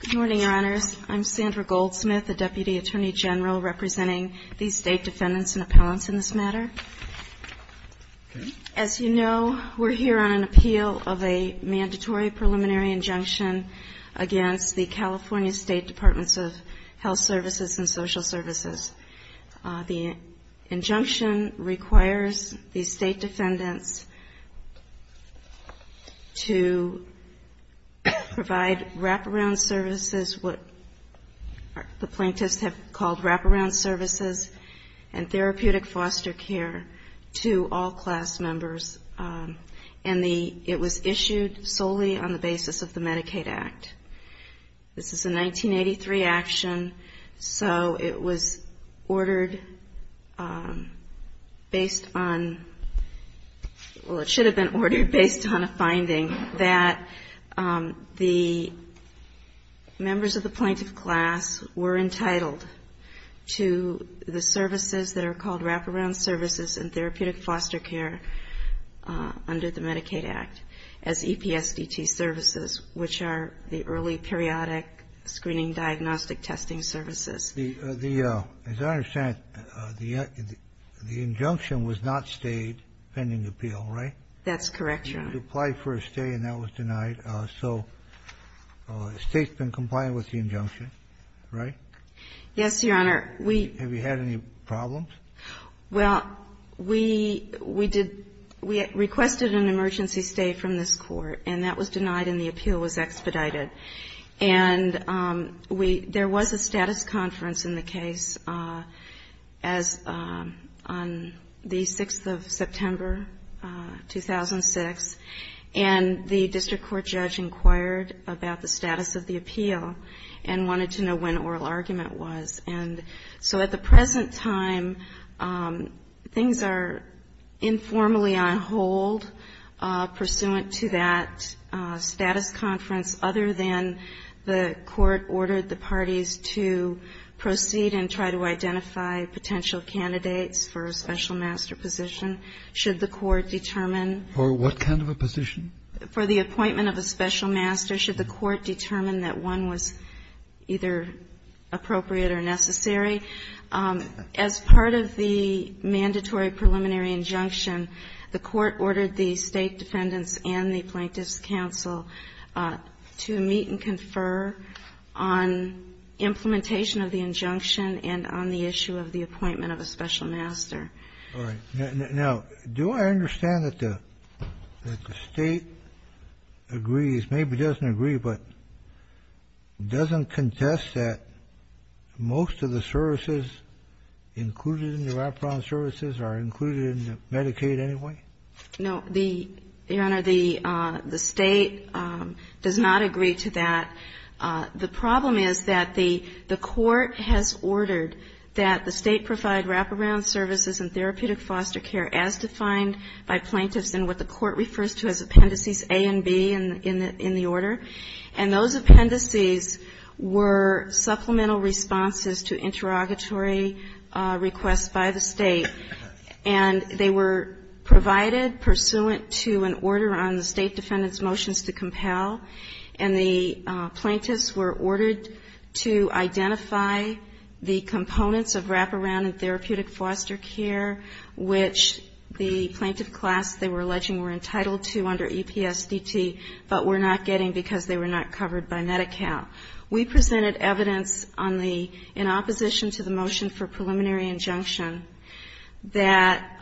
Good morning, Your Honors. I'm Sandra Goldsmith, a Deputy Attorney General representing the State Defendants and Appellants in this matter. As you know, we're here on an appeal of a mandatory preliminary injunction against the California State Departments of Health to provide wraparound services, what the plaintiffs have called wraparound services, and therapeutic foster care to all class members. And it was issued solely on the basis of the Medicaid Act. This is a 1983 action, so it was ordered based on, well, it should have been ordered based on a finding that the members of the plaintiff class were entitled to the services that are called wraparound services and therapeutic foster care under the Medicaid Act as EPSDT services, which are the early periodic screening diagnostic testing services. The, as I understand it, the injunction was not stayed pending appeal, right? That's correct, Your Honor. You applied for a stay, and that was denied. So the State's been compliant with the injunction, right? Yes, Your Honor. We — Have you had any problems? Well, we — we did — we requested an emergency stay from this Court, and that was denied and the appeal was expedited. And we — there was a status conference in the case as — on the 6th of September, 2006, and the district court judge inquired about the status of the appeal and wanted to know when oral argument was. And so at the present time, things are informally on hold pursuant to that status conference, other than the Court ordered the parties to proceed and try to identify potential candidates for a special master position, should the Court determine. For what kind of a position? For the appointment of a special master, should the Court determine that one was either appropriate or necessary. As part of the mandatory preliminary injunction, the Court ordered the State defendants and the Plaintiffs' Counsel to meet and confer on implementation of the injunction and on the issue of the appointment of a special master. All right. Now, do I understand that the State agrees, maybe doesn't agree, but doesn't contest that most of the services included in the Wraparound Services are included in Medicaid anyway? No, Your Honor, the State does not agree to that. The problem is that the Court has ordered that the State provide Wraparound Services and therapeutic foster care as defined by plaintiffs in what the Court refers to as Appendices A and B in the order, and those appendices were supplemental responses to interrogatory requests by the State, and they were provided pursuant to an order on the State defendants' motions to compel, and the plaintiffs were ordered to identify the components of Wraparound and therapeutic foster care which the plaintiff class they were alleging were entitled to under EPSDT, but were not getting because they were not covered by Medi-Cal. We presented evidence on the, in opposition to the motion for preliminary injunction, that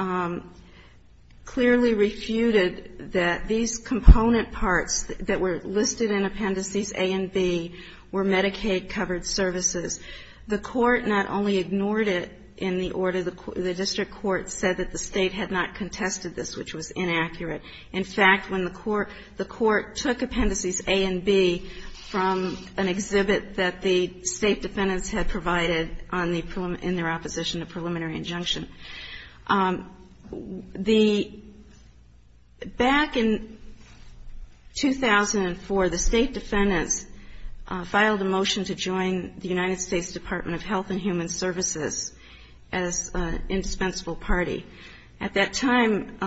clearly refuted that these component parts that were listed in Appendices A and B were Medicaid-covered services. The Court not only ignored it in the order, the district court said that the State had not contested this, which was inaccurate. In fact, when the Court took Appendices A and B from an exhibit that the State defendants had provided on the, in their opposition to preliminary injunction, the, back in 2004, the State defendants filed a motion to join the United States Department of Health and Human Services as an indispensable party. At that time,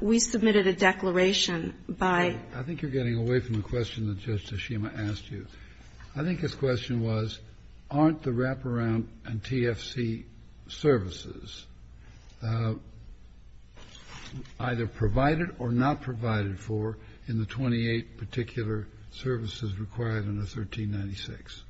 we submitted a declaration by the State that said, in opposition to the motion that Judge Toshima asked you, I think his question was, aren't the Wraparound and TFC services either provided or not provided for in the 28 particular services required under 1396?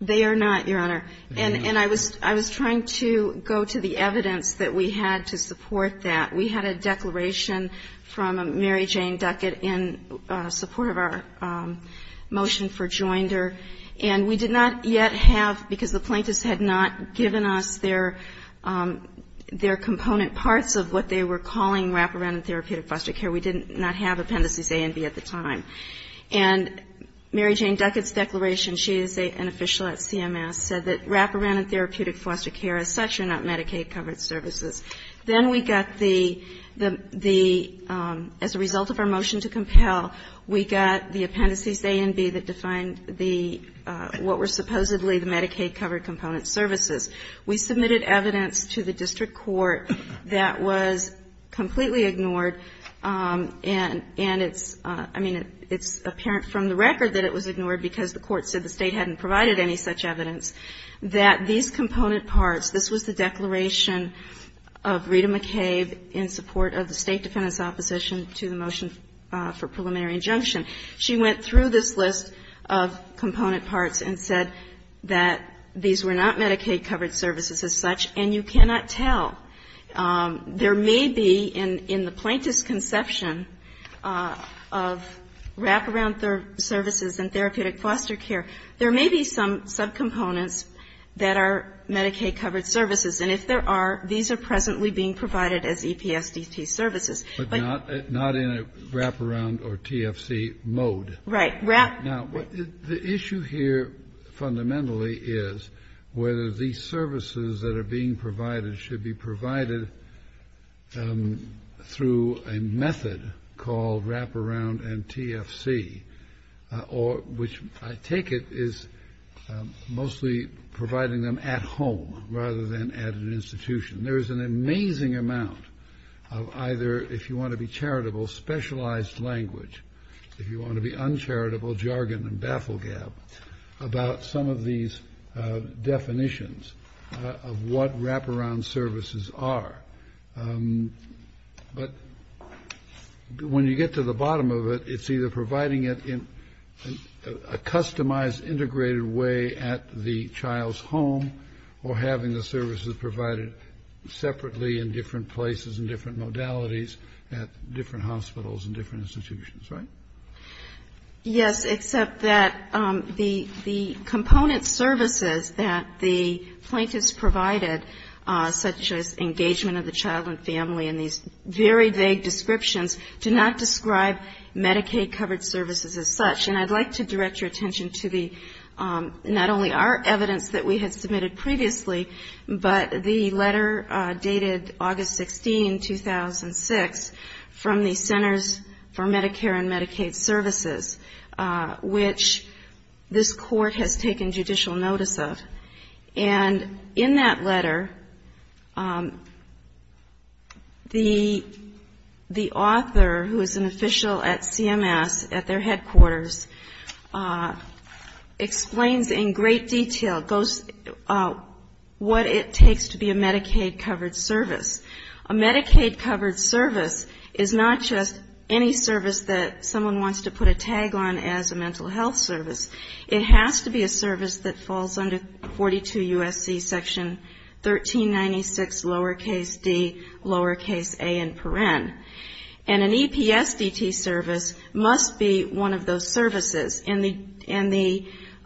They are not, Your Honor. And I was trying to go to the evidence that we had to support that. We had a declaration from Mary Jane Duckett in support of our motion for joinder. And we did not yet have, because the plaintiffs had not given us their, their component parts of what they were calling Wraparound and Therapeutic Foster Care, we did not have Appendices A and B at the time. And Mary Jane Duckett's declaration, she is an official at CMS, said that Wraparound and Therapeutic Foster Care as such are not Medicaid-covered services. Then we got the, the, the, as a result of our motion to compel, we got the Appendices A and B that defined the, what were supposedly the Medicaid-covered component services. We submitted evidence to the district court that was completely ignored, and, and it's, I mean, it's apparent from the record that it was ignored because the court said the component parts, this was the declaration of Rita McCabe in support of the State Defendant's opposition to the motion for preliminary injunction. She went through this list of component parts and said that these were not Medicaid-covered services as such, and you cannot tell. There may be in, in the plaintiff's conception of Wraparound services and Therapeutic Foster Care, there may be some subcomponents that are Medicaid-covered services. And if there are, these are presently being provided as EPSDT services. But not, not in a Wraparound or TFC mode. Right. Now, the issue here fundamentally is whether these services that are being provided should be provided through a method called Wraparound and TFC, or, which I take it is mostly providing them at home rather than at an institution. There's an amazing amount of either, if you want to be charitable, specialized language. If you want to be uncharitable, jargon and baffle gab about some of these definitions of what Wraparound services are. But when you get to the bottom of it, it's either providing it in a customized, integrated way at the child's home, or having the services provided separately in different places and different modalities at different hospitals and different institutions. Right? Yes, except that the component services that the plaintiffs provided, such as engagement of the child and family and these very vague descriptions, do not describe Medicaid- covered services as such. And I'd like to direct your attention to the, not only our evidence that we had submitted previously, but the letter dated August 16, 2006, from the Centers for Medicare and Child Care Services, which this Court has taken judicial notice of. And in that letter, the author, who is an official at CMS at their headquarters, explains in great detail what it takes to be a Medicaid-covered service. A Medicaid-covered service is not just any service that someone wants to put a tag on as a mental health service. It has to be a service that falls under 42 U.S.C. Section 1396, lowercase d, lowercase a and paren. And an EPSDT service must be one of those services. And the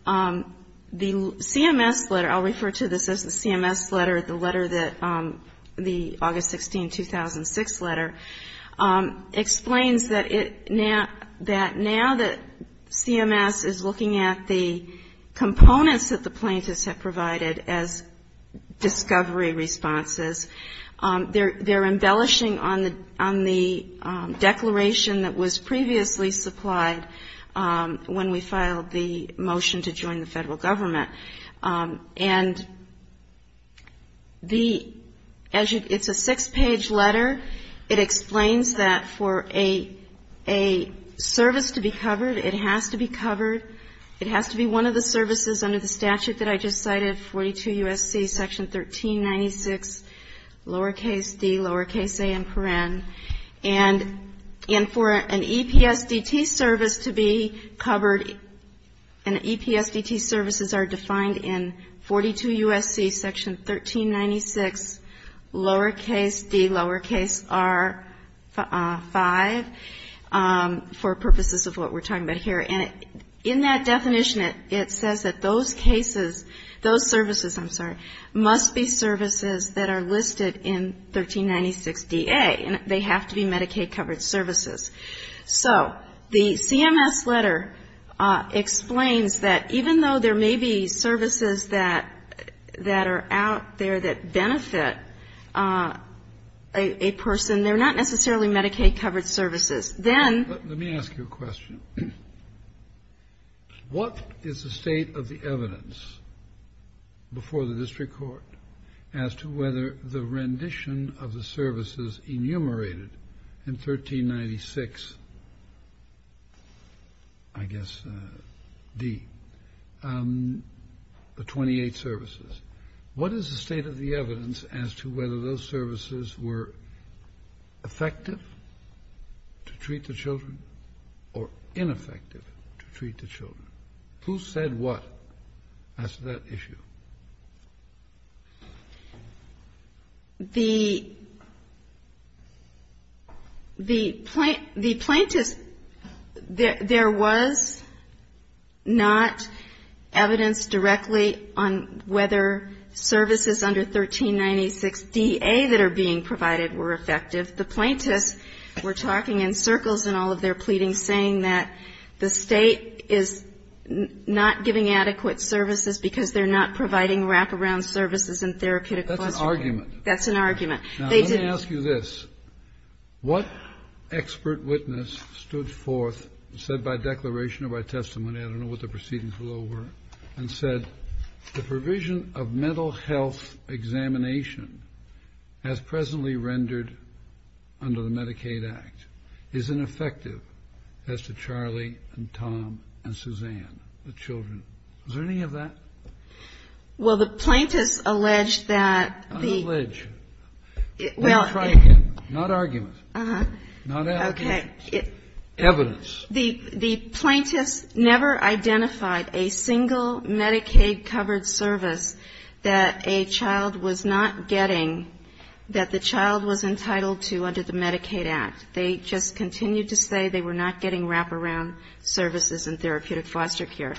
CMS letter, I'll refer to this as the CMS letter, the letter that, the August 16, 2006 letter, explains that now that CMS is looking at the components that the plaintiffs have provided as discovery responses, they're embellishing on the declaration that was when we filed the motion to join the federal government. And the, as you, it's a six-page letter. It explains that for a service to be covered, it has to be covered. It has to be one of the services under the statute that I just cited, 42 U.S.C. Section 1396, lowercase d, lowercase a and paren. And for an EPSDT service to be covered, an EPSDT services are defined in 42 U.S.C. Section 1396, lowercase d, lowercase r, 5, for purposes of what we're talking about here. And in that definition, it says that those cases, those services, I'm sorry, must be services that are listed in 1396 DA. And they have to be Medicaid-covered services. So the CMS letter explains that even though there may be services that are out there that benefit a person, they're not necessarily Medicaid-covered services. Then ---- Kennedy, let me ask you a question. What is the state of the evidence before the district court as to whether the rendition of the services enumerated in 1396, I guess, D, the 28 services, what is the state of the evidence as to whether those services were effective to treat the children or ineffective to treat the children? The plaintiffs, there was not evidence directly on whether services under 1396 DA that are being provided were effective. The plaintiffs were talking in circles in all of their pleadings saying that the state is not giving adequate services because they're not providing wraparound services and therapeutic ---- That's an argument. That's an argument. Now, let me ask you this. What expert witness stood forth, said by declaration or by testimony, I don't know what the proceedings below were, and said the provision of mental health examination as presently rendered under the Medicaid Act is ineffective as to Charlie and Tom and Suzanne, the children. Is there any of that? Well, the plaintiffs allege that the ---- Not allege. Well, ---- Not argument. Uh-huh. Not allegation. Okay. Evidence. The plaintiffs never identified a single Medicaid-covered service that a child was not getting, that the child was entitled to under the Medicaid Act. They just continued to say they were not getting wraparound services and therapeutic foster care.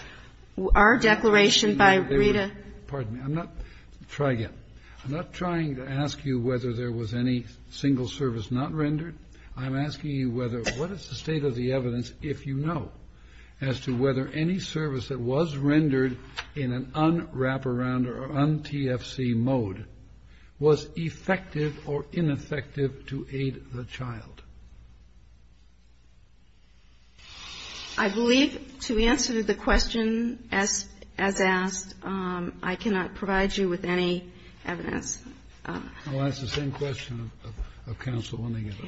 Our declaration by Rita ---- Pardon me. I'm not ---- try again. I'm not trying to ask you whether there was any single service not rendered. I'm asking you whether ---- what is the state of the evidence, if you know, as to whether any service that was rendered in an un-wraparound or un-TFC mode was effective or ineffective to aid the child? I believe to answer the question as asked, I cannot provide you with any evidence. I'll ask the same question of counsel when they get up.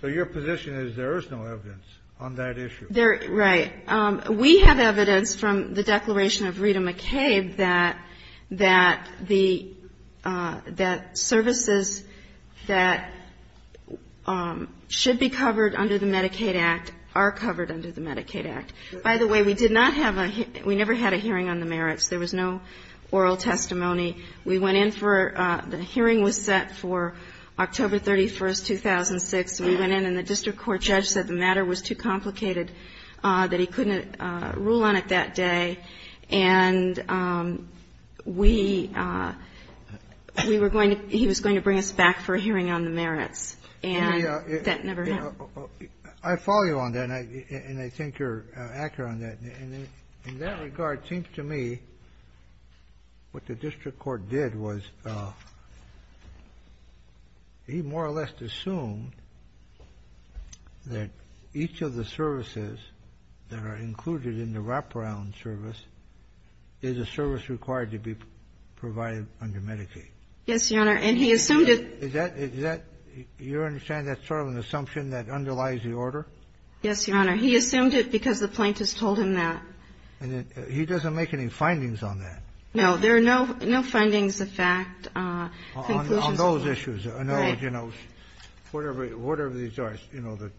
So your position is there is no evidence on that issue? There ---- right. We have evidence from the declaration of Rita McCabe that the ---- that services that should be covered under the Medicaid Act are covered under the Medicaid Act. By the way, we did not have a ---- we never had a hearing on the merits. There was no oral testimony. We went in for ---- the hearing was set for October 31, 2006. We went in and the district court judge said the matter was too complicated, that he couldn't rule on it that day, and we were going to ---- he was going to bring us back for a hearing on the merits, and that never happened. I follow you on that, and I think you're accurate on that. In that regard, it seems to me what the district court did was he more or less assumed that each of the services that are included in the wraparound service is a service required to be provided under Medicaid. Yes, Your Honor. And he assumed it ---- Is that ---- you understand that's sort of an assumption that underlies the order? Yes, Your Honor. He assumed it because the plaintiffs told him that. And he doesn't make any findings on that? No. There are no findings of fact. On those issues. No, you know, whatever these are, you know, the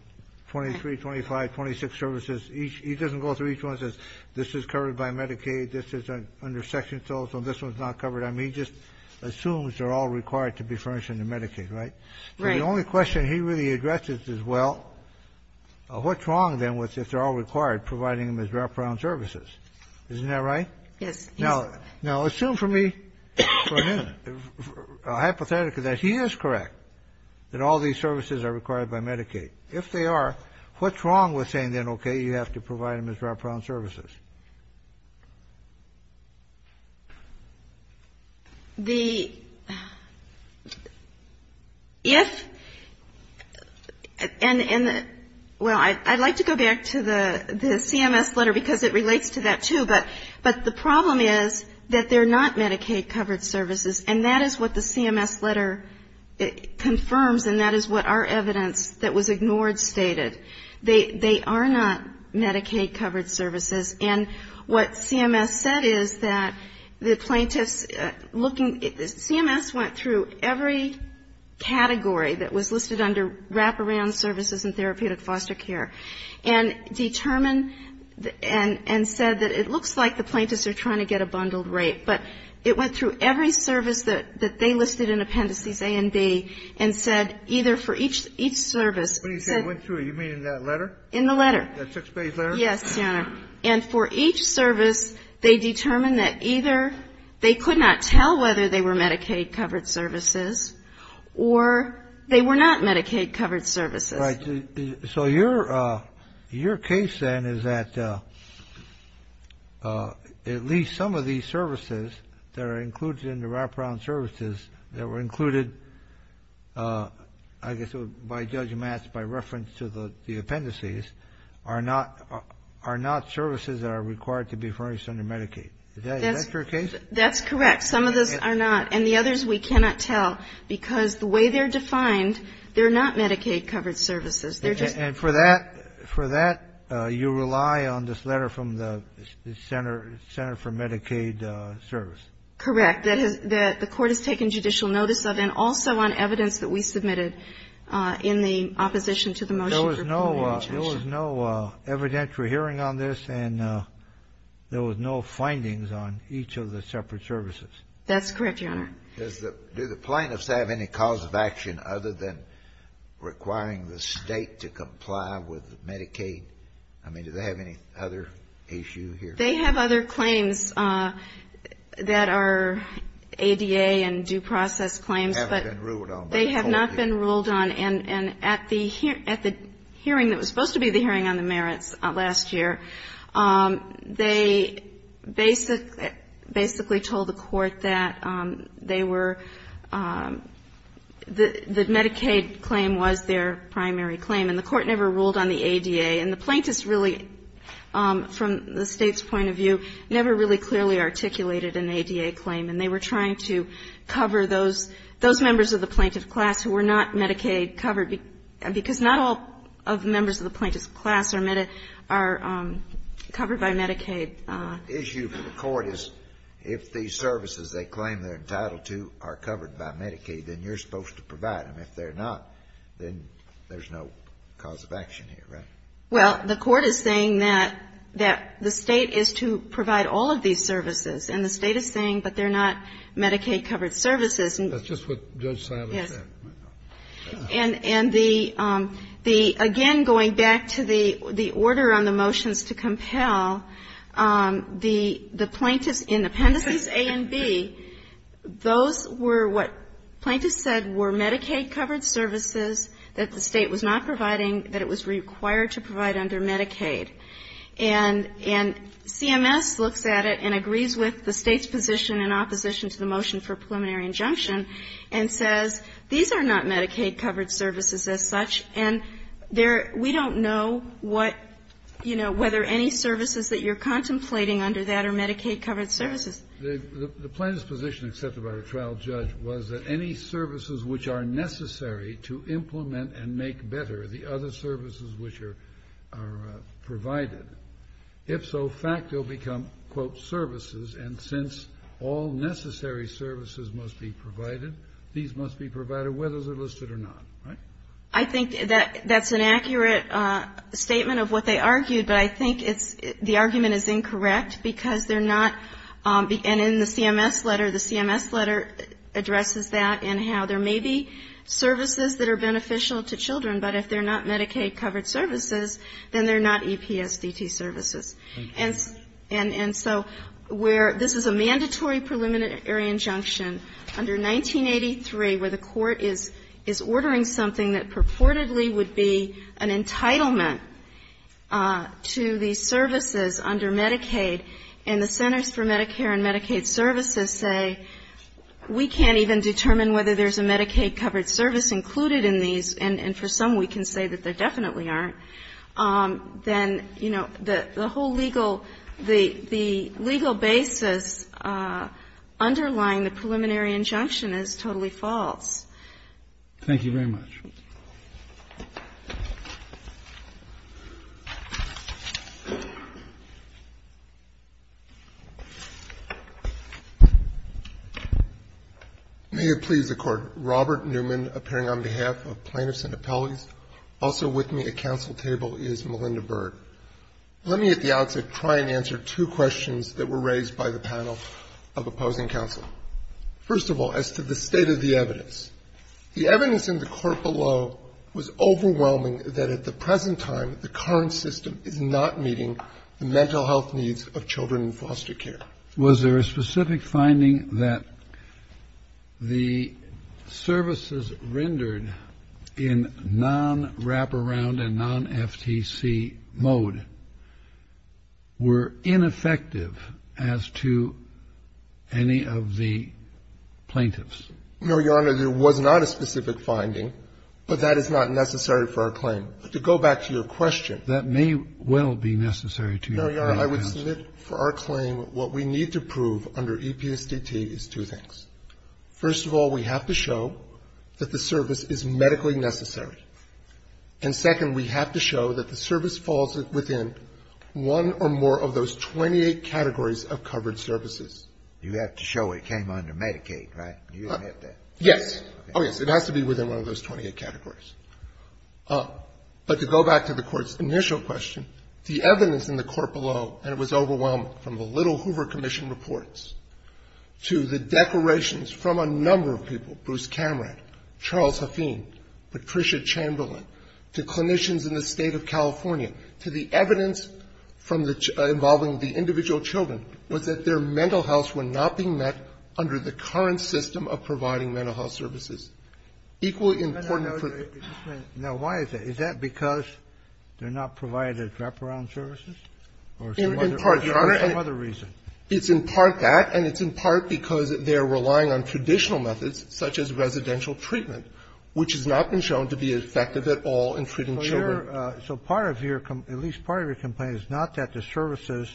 23, 25, 26 services, he doesn't go through each one and says, this is covered by Medicaid, this is under Section 12, so this one's not covered. I mean, he just assumes they're all required to be furnished under Medicaid, right? Right. The only question he really addresses is, well, what's wrong, then, with if they're all required, providing them as wraparound services? Isn't that right? Yes. Now, assume for me for a minute, a hypothetical that he is correct, that all these services are required by Medicaid. If they are, what's wrong with saying, then, okay, you have to provide them as wraparound services? The ---- if ---- and the ---- well, I'd like to go back to the CMS letter because it relates to that, too. But the problem is that they're not Medicaid-covered services, and that is what the CMS letter confirms, and that is what our evidence that was ignored stated. They are not Medicaid-covered services. And what CMS said is that the plaintiffs looking ---- CMS went through every category that was listed under wraparound services in therapeutic foster care and determined and said that it looks like the plaintiffs are trying to get a bundled rate. But it went through every service that they listed in Appendices A and B and said either for each service ---- When you say went through, you mean in that letter? In the letter. That six-page letter? Yes, Your Honor. And for each service, they determined that either they could not tell whether they were Medicaid-covered services or they were not Medicaid-covered services. Right. So your case, then, is that at least some of these services that are included in the wraparound services that were included, I guess by Judge Matz, by reference to the appendices, are not services that are required to be furnished under Medicaid. Is that your case? That's correct. Some of those are not. And the others we cannot tell because the way they're defined, they're not Medicaid-covered services. They're just ---- And for that, you rely on this letter from the Center for Medicaid Service? Correct. That the Court has taken judicial notice of and also on evidence that we submitted in the opposition to the motion for preliminary judgment. There was no evidentiary hearing on this, and there was no findings on each of the separate services. That's correct, Your Honor. Does the ---- do the plaintiffs have any cause of action other than requiring the State to comply with Medicaid? I mean, do they have any other issue here? They have other claims that are ADA and due process claims. But they have not been ruled on. And at the hearing that was supposed to be the hearing on the merits last year, they basically told the Court that they were not Medicaid-covered, that they were the Medicaid claim was their primary claim. And the Court never ruled on the ADA. And the plaintiffs really, from the State's point of view, never really clearly articulated an ADA claim. And they were trying to cover those members of the plaintiff class who were not Medicaid-covered. Because not all of the members of the plaintiff's class are covered by Medicaid. The issue for the Court is if these services they claim they're entitled to are covered by Medicaid, then you're supposed to provide them. If they're not, then there's no cause of action here, right? Well, the Court is saying that the State is to provide all of these services, and the State is saying, but they're not Medicaid-covered services. That's just what Judge Silas said. Yes. And the again, going back to the order on the motions to compel, the plaintiffs in Appendices A and B, those were what plaintiffs said were Medicaid-covered services that the State was not providing, that it was required to provide under Medicaid. And CMS looks at it and agrees with the State's position in opposition to the motion for preliminary injunction, and says, these are not Medicaid-covered services as such, and we don't know what, you know, whether any services that you're contemplating under that are Medicaid-covered services. The plaintiff's position, excepted by the trial judge, was that any services which are necessary to implement and make better the other services which are provided, if so, in fact, they'll become, quote, services, and since all necessary services are Medicaid-covered, all necessary services must be provided, these must be provided, whether they're listed or not, right? I think that's an accurate statement of what they argued, but I think it's, the argument is incorrect, because they're not, and in the CMS letter, the CMS letter addresses that, and how there may be services that are beneficial to children, but if they're not Medicaid-covered services, then they're not EPSDT services. And so where this is a mandatory preliminary injunction, under 1983, where the court is ordering something that purportedly would be an entitlement to these services under Medicaid, and the Centers for Medicare and Medicaid Services say, we can't even determine whether there's a Medicaid-covered service included in these, and for some we can say that there definitely aren't, then, you know, the whole legal, the legal basis underlying the preliminary injunction is totally false. Thank you very much. May it please the Court. The evidence in the court below was overwhelming that at the present time, the current system is not meeting the mental health needs of children in foster care. Was there a specific finding that the services rendered in non-wraparound and non-FTC mode were ineffective as to any of the plaintiffs? No, Your Honor, there was not a specific finding, but that is not necessary for our claim. To go back to your question. That may well be necessary to your claim. No, Your Honor. I would submit for our claim what we need to prove under EPSDT is two things. First of all, we have to show that the service is medically necessary. And second, we have to show that the service falls within one or more of those 28 categories of covered services. You have to show it came under Medicaid, right? You don't have to. Yes. Oh, yes. It has to be within one of those 28 categories. But to go back to the Court's initial question, the evidence in the court below, and it was overwhelming, from the little Hoover Commission reports to the declarations from a number of people, Bruce Cameron, Charles Huffine, Patricia Chamberlain, to clinicians in the State of California, to the evidence from the children, involving the individual children, was that their mental health were not being met under the current system of providing mental health services. Equally important for the children. Now, why is that? Is that because they're not provided wraparound services or some other reason? In part, Your Honor. It's in part that, and it's in part because they're relying on traditional methods, such as residential treatment, which has not been shown to be effective at all in treating children. So part of your, at least part of your complaint is not that the services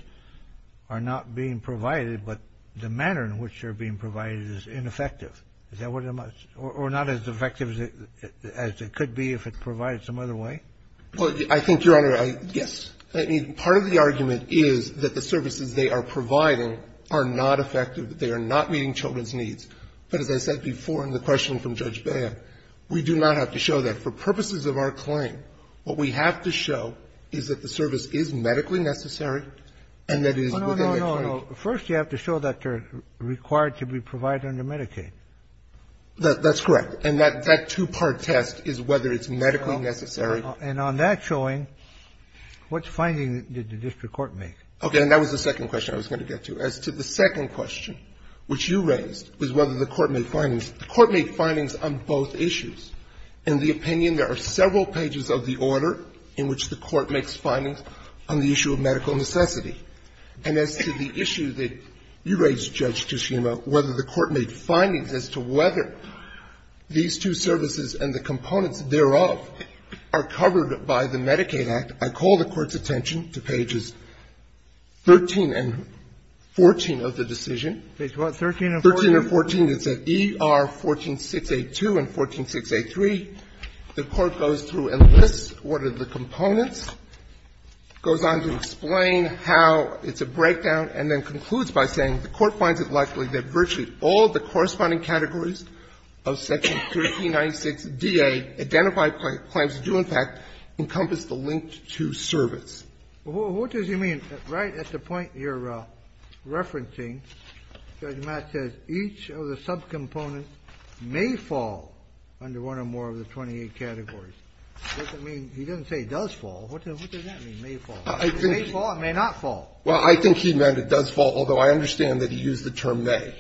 are not being provided, but the manner in which they're being provided is ineffective. Is that what I'm asking? Or not as effective as it could be if it's provided some other way? Well, I think, Your Honor, yes. I mean, part of the argument is that the services they are providing are not effective, that they are not meeting children's needs. But as I said before in the question from Judge Baer, we do not have to show that. For purposes of our claim, what we have to show is that the service is medically necessary and that it is within the current. So first you have to show that they're required to be provided under Medicaid. That's correct. And that two-part test is whether it's medically necessary. And on that showing, what findings did the district court make? Okay. And that was the second question I was going to get to. As to the second question, which you raised, was whether the court made findings. The court made findings on both issues. In the opinion, there are several pages of the order in which the court makes findings on the issue of medical necessity. And as to the issue that you raised, Judge Tishuma, whether the court made findings as to whether these two services and the components thereof are covered by the Medicaid Act, I call the Court's attention to pages 13 and 14 of the decision. Page what, 13 and 14? 13 and 14. It's at ER 14682 and 14683. The Court goes through and lists what are the components, goes on to explain how it's a breakdown, and then concludes by saying the Court finds it likely that virtually all the corresponding categories of Section 1396DA identified claims do, in fact, encompass the link to service. Well, what does he mean? Right at the point you're referencing, Judge Matt says each of the subcomponents may fall under one or more of the 28 categories. What does that mean? He doesn't say it does fall. What does that mean, may fall? It may fall. It may not fall. Well, I think he meant it does fall, although I understand that he used the term may.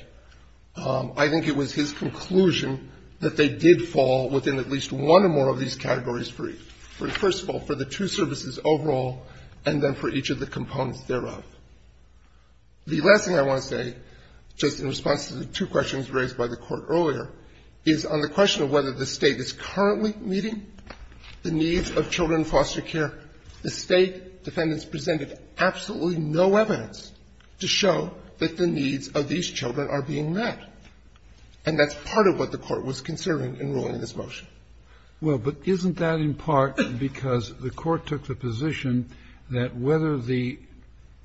I think it was his conclusion that they did fall within at least one or more of these categories for each. First of all, for the two services overall and then for each of the components thereof. The last thing I want to say, just in response to the two questions raised by the children foster care, the State defendants presented absolutely no evidence to show that the needs of these children are being met. And that's part of what the Court was considering in ruling this motion. Well, but isn't that in part because the Court took the position that whether the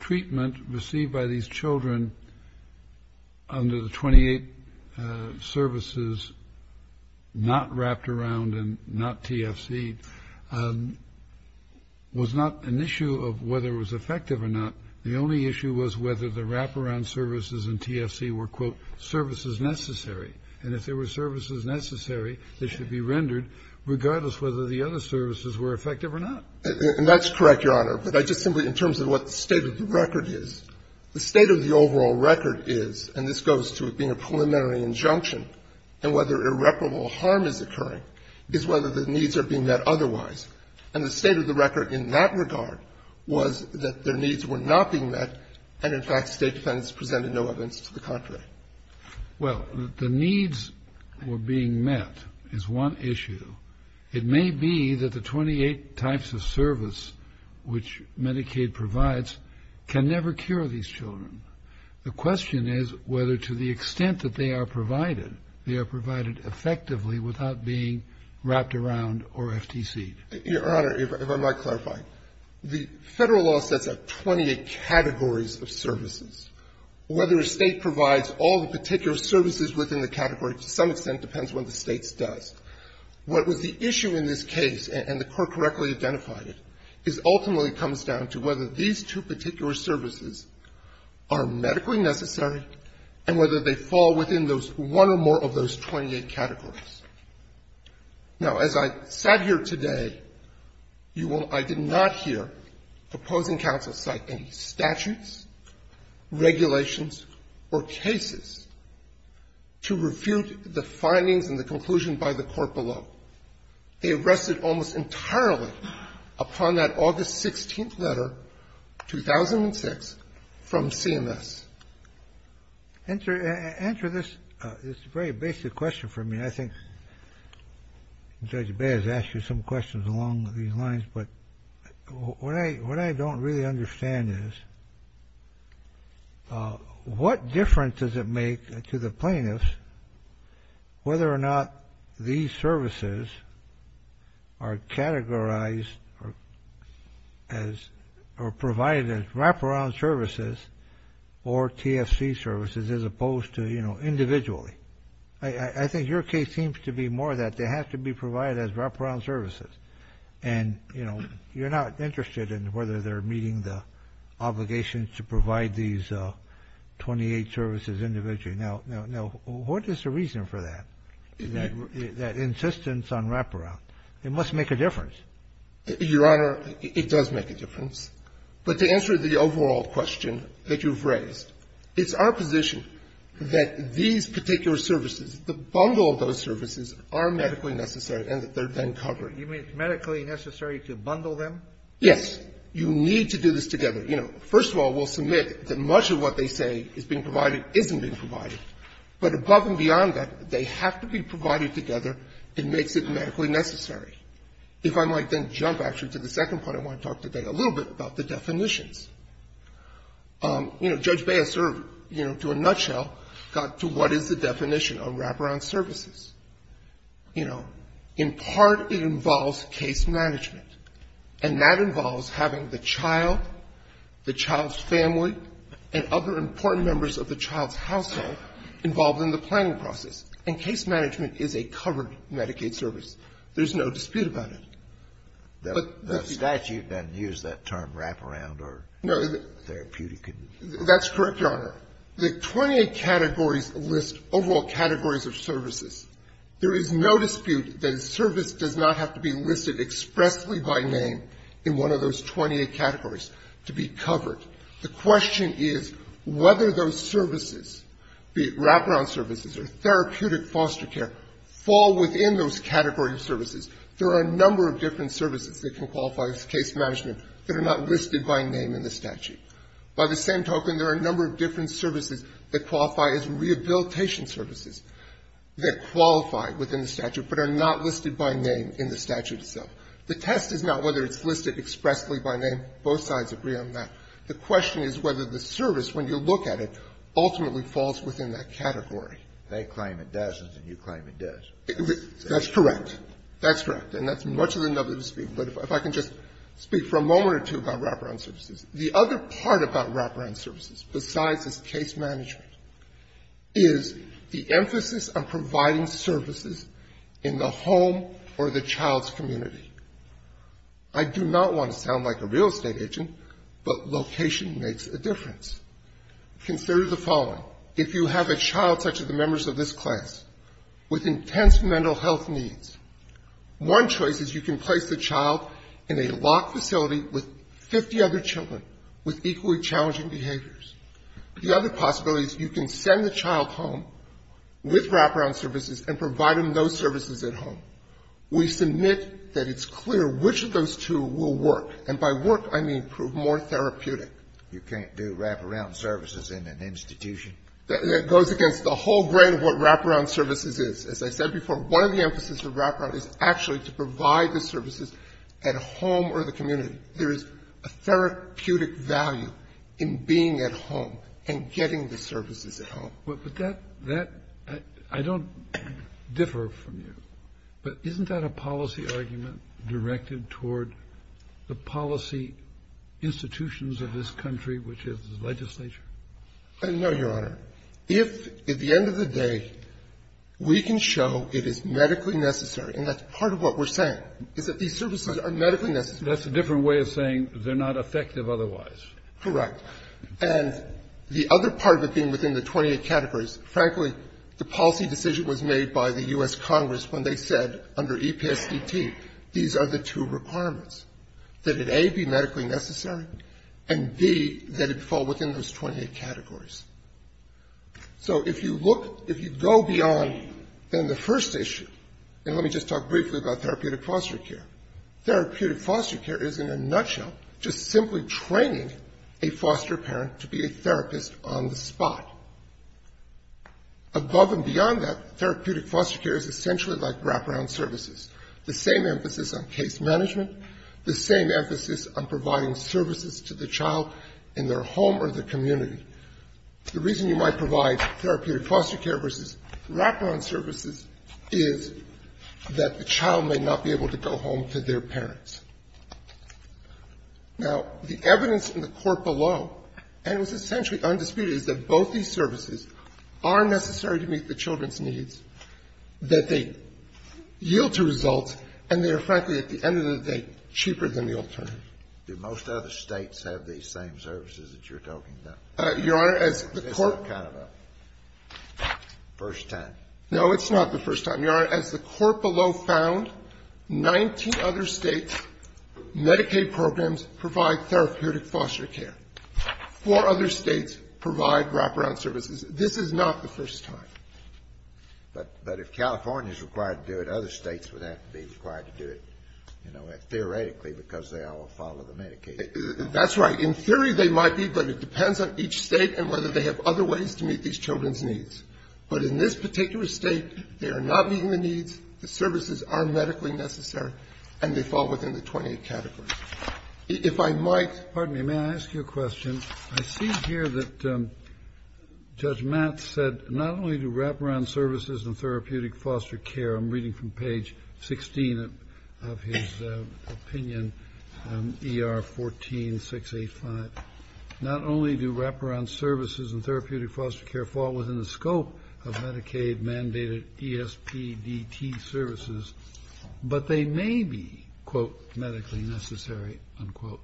treatment received by these children under the 28 services not wrapped around and not TFCed was not an issue of whether it was effective or not. The only issue was whether the wraparound services in TFC were, quote, services necessary, and if there were services necessary, they should be rendered regardless whether the other services were effective or not. And that's correct, Your Honor. But I just simply, in terms of what the state of the record is, the state of the overall record is, and this goes to it being a preliminary injunction, and whether irreparable harm is occurring is whether the needs are being met otherwise. And the state of the record in that regard was that their needs were not being met and, in fact, State defendants presented no evidence to the contrary. Well, the needs were being met is one issue. It may be that the 28 types of service which Medicaid provides can never cure these children. The question is whether to the extent that they are provided, they are provided effectively without being wrapped around or FTCed. Your Honor, if I might clarify. The Federal law sets out 28 categories of services. Whether a State provides all the particular services within the category, to some extent, depends on what the State does. What was the issue in this case, and the Court correctly identified it, is ultimately comes down to whether these two particular services are medically necessary and whether they fall within those, one or more of those 28 categories. Now, as I sat here today, you will, I did not hear opposing counsel cite any statutes, regulations, or cases to refute the findings and the conclusion by the Court below. They rested almost entirely upon that August 16th letter, 2006, from CMS. Answer this. It's a very basic question for me. I think Judge Baez asked you some questions along these lines, but what I don't really understand is what difference does it make to the plaintiffs whether or not these services are categorized or provided as wraparound services or TFC services as opposed to, you know, individually. I think your case seems to be more that they have to be provided as wraparound services. And, you know, you're not interested in whether they're meeting the obligations to provide these 28 services individually. Now, what is the reason for that? That insistence on wraparound, it must make a difference. Your Honor, it does make a difference. But to answer the overall question that you've raised, it's our position that these particular services, the bundle of those services are medically necessary and that they're then covered. You mean it's medically necessary to bundle them? Yes. You need to do this together. You know, first of all, we'll submit that much of what they say is being provided isn't being provided. But above and beyond that, they have to be provided together. It makes it medically necessary. If I might then jump, actually, to the second point I want to talk today a little bit about the definitions. You know, Judge Baez, you know, to a nutshell, got to what is the definition of wraparound services. You know, in part, it involves case management. And that involves having the child, the child's family, and other important members of the child's household involved in the planning process. And case management is a covered Medicaid service. There's no dispute about it. The statute doesn't use that term, wraparound, or therapeutic. That's correct, Your Honor. The 28 categories list overall categories of services. There is no dispute that a service does not have to be listed expressly by name in one of those 28 categories to be covered. The question is whether those services, be it wraparound services or therapeutic foster care, fall within those categories of services. There are a number of different services that can qualify as case management that are not listed by name in the statute. By the same token, there are a number of different services that qualify as rehabilitation services that qualify within the statute but are not listed by name in the statute itself. The test is not whether it's listed expressly by name. Both sides agree on that. The question is whether the service, when you look at it, ultimately falls within that category. They claim it doesn't, and you claim it does. That's correct. That's correct. And that's much of the nub of the dispute. But if I can just speak for a moment or two about wraparound services. The other part about wraparound services, besides as case management, is the emphasis on providing services in the home or the child's community. I do not want to sound like a real estate agent, but location makes a difference. Consider the following. If you have a child such as the members of this class with intense mental health needs, one choice is you can place the child in a locked facility with 50 other children with equally challenging behaviors. The other possibility is you can send the child home with wraparound services and provide them those services at home. We submit that it's clear which of those two will work. And by work, I mean prove more therapeutic. You can't do wraparound services in an institution. That goes against the whole grain of what wraparound services is. As I said before, one of the emphases of wraparound is actually to provide the services at home or the community. There is a therapeutic value in being at home and getting the services at home. But that, that, I don't differ from you, but isn't that a policy argument directed toward the policy institutions of this country, which is the legislature? No, Your Honor. If, at the end of the day, we can show it is medically necessary, and that's part of what we're saying, is that these services are medically necessary. That's a different way of saying they're not effective otherwise. Correct. And the other part of it being within the 28 categories, frankly, the policy decision was made by the U.S. Congress when they said, under EPSDT, these are the two requirements, that it, A, be medically necessary, and, B, that it fall within those 28 categories. So if you look, if you go beyond then the first issue, and let me just talk briefly about therapeutic foster care. Therapeutic foster care is, in a nutshell, just simply training a foster parent to be a therapist on the spot. Above and beyond that, therapeutic foster care is essentially like wraparound services, the same emphasis on case management, the same emphasis on providing services to the child in their home or their community. The reason you might provide therapeutic foster care versus wraparound services is that the child may not be able to go home to their parents. Now, the evidence in the court below, and it was essentially undisputed, is that both these services are necessary to meet the children's needs, that they yield to results, and they are, frankly, at the end of the day, cheaper than the alternative. Do most other States have these same services that you're talking about? Your Honor, as the court ---- It's not kind of a first time. No, it's not the first time. Your Honor, as the court below found, 19 other States' Medicaid programs provide therapeutic foster care. Four other States provide wraparound services. This is not the first time. But if California is required to do it, other States would have to be required to do it, you know, theoretically, because they all follow the Medicaid. That's right. In theory, they might be, but it depends on each State and whether they have other ways to meet these children's But in this particular State, they are not meeting the needs, the services are medically necessary, and they fall within the 28 categories. If I might ---- Pardon me. May I ask you a question? I see here that Judge Matt said not only do wraparound services and therapeutic foster care, I'm reading from page 16 of his opinion, ER 14-685, not only do wraparound services and therapeutic foster care fall within the scope of Medicaid mandated ESPDT services, but they may be, quote, medically necessary, unquote,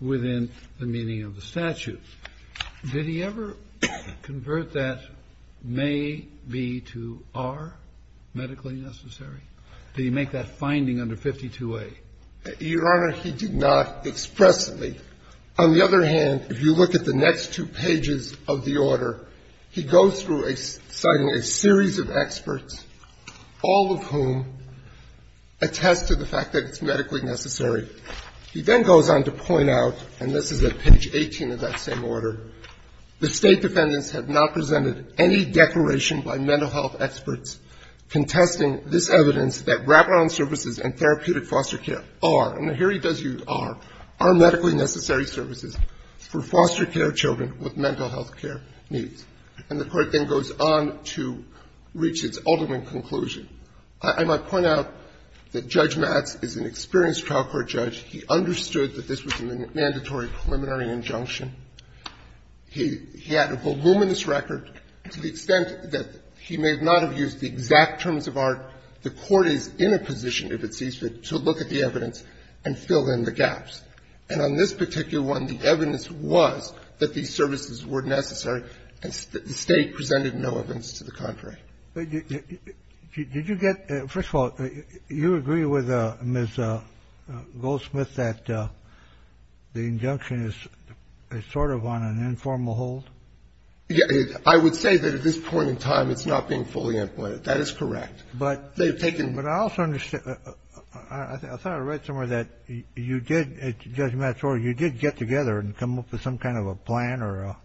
within the meaning of the statute. Did he ever convert that may be to are medically necessary? Did he make that finding under 52A? Your Honor, he did not expressly. On the other hand, if you look at the next two pages of the order, he goes through citing a series of experts, all of whom attest to the fact that it's medically necessary. He then goes on to point out, and this is at page 18 of that same order, the State defendants have not presented any declaration by mental health experts contesting this evidence that for foster care children with mental health care needs. And the Court then goes on to reach its ultimate conclusion. I might point out that Judge Matz is an experienced trial court judge. He understood that this was a mandatory preliminary injunction. He had a voluminous record to the extent that he may not have used the exact terms of art the Court is in a position, if it sees fit, to look at the evidence and fill in the gaps. And on this particular one, the evidence was that these services were necessary and the State presented no evidence to the contrary. Did you get the – first of all, you agree with Ms. Goldsmith that the injunction is sort of on an informal hold? I would say that at this point in time it's not being fully employed. That is correct. But they've taken – But I also – I thought I read somewhere that you did, Judge Matz, you did get together and come up with some kind of a plan or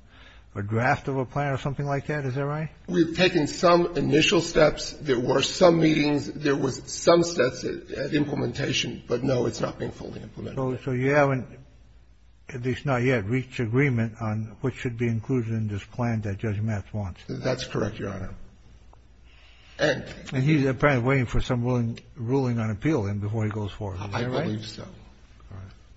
a draft of a plan or something like that. Is that right? We've taken some initial steps. There were some meetings. There were some steps at implementation. But, no, it's not being fully implemented. So you haven't, at least not yet, reached agreement on what should be included in this plan that Judge Matz wants. That's correct, Your Honor. And he's apparently waiting for some ruling on appeal, then, before he goes forward. Is that right? I believe so.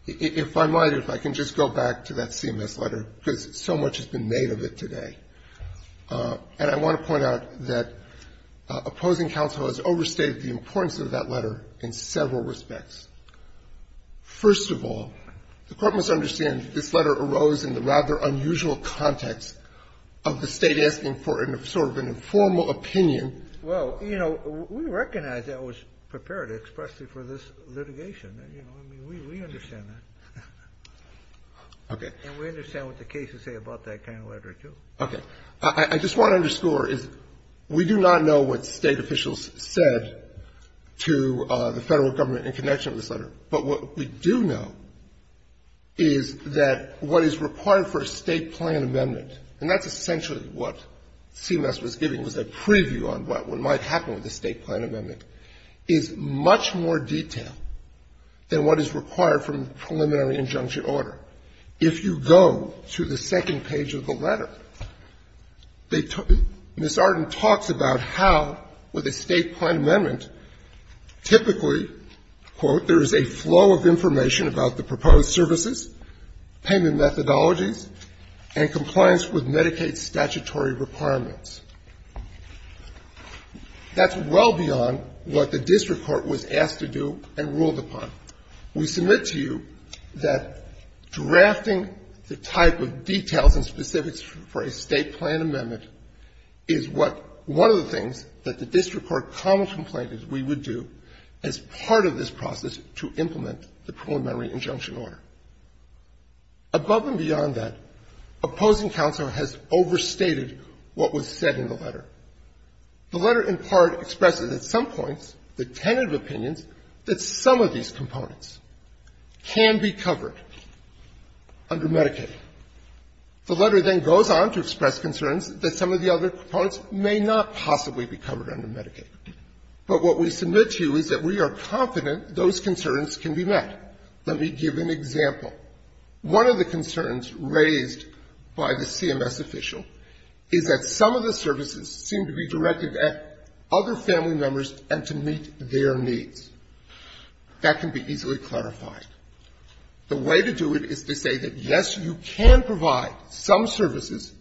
If I might, if I can just go back to that CMS letter, because so much has been made of it today. And I want to point out that opposing counsel has overstated the importance of that letter in several respects. First of all, the Court must understand that this letter arose in the rather unusual context of the State asking for sort of an informal opinion. Well, you know, we recognize that was prepared expressly for this litigation. You know, I mean, we understand that. Okay. And we understand what the cases say about that kind of letter, too. Okay. I just want to underscore is we do not know what State officials said to the Federal Government in connection with this letter. But what we do know is that what is required for a State plan amendment, and that's essentially what CMS was giving, was a preview on what might happen with a State plan amendment, is much more detailed than what is required from the preliminary injunction order. If you go to the second page of the letter, they took — Ms. Arden talks about how, with a State plan amendment, typically, quote, there is a flow of information about the proposed services, payment methodologies, and compliance with Medicaid statutory requirements. That's well beyond what the district court was asked to do and ruled upon. We submit to you that drafting the type of details and specifics for a State plan amendment is what — one of the things that the district court commonly complained that we would do as part of this process to implement the preliminary injunction order. Above and beyond that, opposing counsel has overstated what was said in the letter. The letter, in part, expresses at some points the tentative opinions that some of these components can be covered under Medicaid. The letter then goes on to express concerns that some of the other components may not possibly be covered under Medicaid. But what we submit to you is that we are confident those concerns can be met. Let me give an example. One of the concerns raised by the CMS official is that some of the services seem to be directed at other family members and to meet their needs. That can be easily clarified. The way to do it is to say that, yes, you can provide some services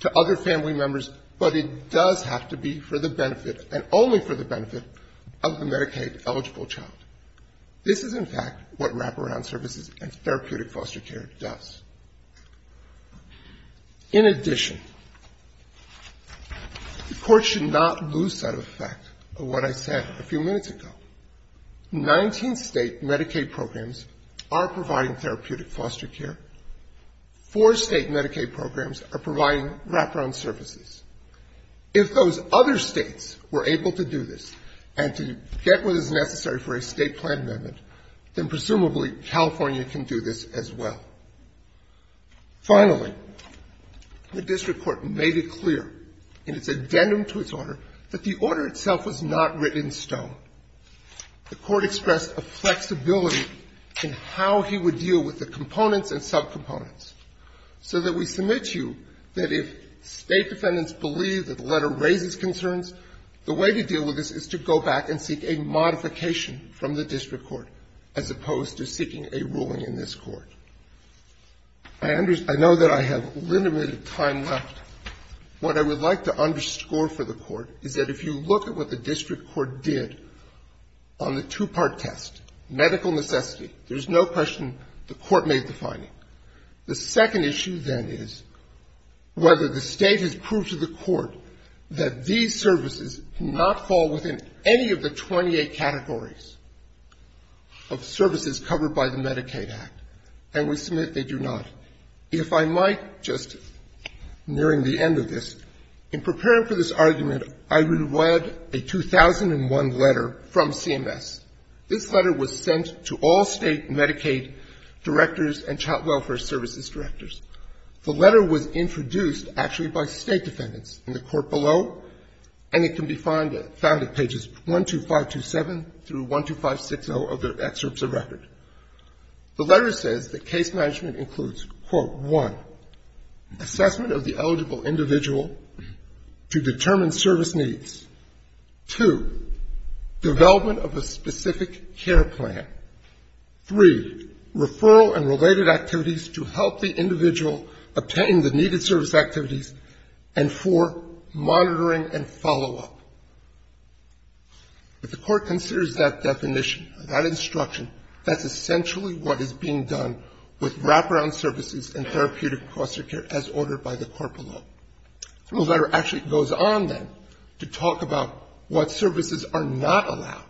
to other family members, but it does have to be for the benefit and only for the benefit of the Medicaid-eligible child. This is, in fact, what wraparound services and therapeutic foster care does. In addition, the Court should not lose sight of the fact of what I said a few minutes ago. Nineteen State Medicaid programs are providing therapeutic foster care. Four State Medicaid programs are providing wraparound services. If those other States were able to do this and to get what is necessary for a State plan amendment, then presumably California can do this as well. Finally, the district court made it clear in its addendum to its order that the order itself was not written in stone. The Court expressed a flexibility in how he would deal with the components and subcomponents, so that we submit to you that if State defendants believe that the letter raises concerns, the way to deal with this is to go back and seek a modification from the district court, as opposed to seeking a ruling in this Court. I know that I have limited time left. What I would like to underscore for the Court is that if you look at what the district court did on the two-part test, medical necessity, there's no question the Court made the finding. The second issue, then, is whether the State has proved to the Court that these services do not fall within any of the 28 categories of services covered by the Medicaid Act, and we submit they do not. Now, if I might, just nearing the end of this, in preparing for this argument, I would have read a 2001 letter from CMS. This letter was sent to all State Medicaid directors and child welfare services directors. The letter was introduced actually by State defendants in the Court below, and it can be found at pages 12527 through 12560 of their excerpts of record. The letter says that case management includes, quote, 1, assessment of the eligible individual to determine service needs, 2, development of a specific care plan, 3, referral and related activities to help the individual obtain the needed service activities, and 4, monitoring and follow-up. If the Court considers that definition, that instruction, that's essentially what is being done with wraparound services and therapeutic foster care as ordered by the Court below. The letter actually goes on, then, to talk about what services are not allowed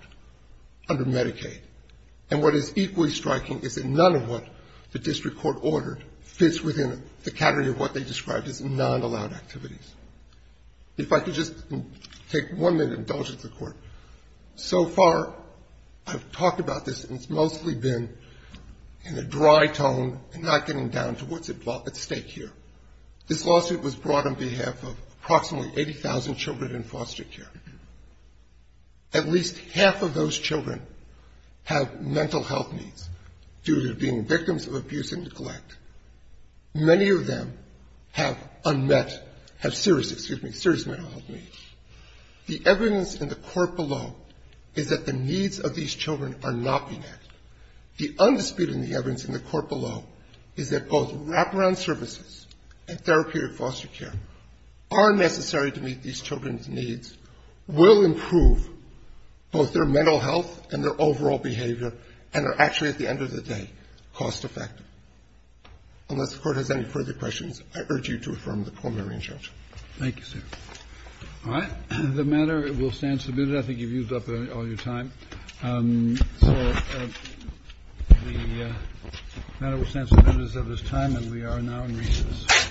under Medicaid, and what is equally striking is that none of what the district court ordered fits within the category of what they described as non-allowed activities. If I could just take one minute and indulge with the Court. So far, I've talked about this, and it's mostly been in a dry tone and not getting down to what's at stake here. This lawsuit was brought on behalf of approximately 80,000 children in foster care. At least half of those children have mental health needs due to being victims of abuse and neglect. Many of them have unmet, have serious, excuse me, serious mental health needs. The evidence in the Court below is that the needs of these children are not being met. The undisputed evidence in the Court below is that both wraparound services and therapeutic foster care are necessary to meet these children's needs, will improve both their mental health and their overall behavior, and are actually, at the end of the day, cost-effective. Unless the Court has any further questions, I urge you to affirm the Colmarine charge. Thank you, sir. All right. The matter will stand submitted. I think you've used up all your time. So the matter will stand submitted as of this time, and we are now in recess.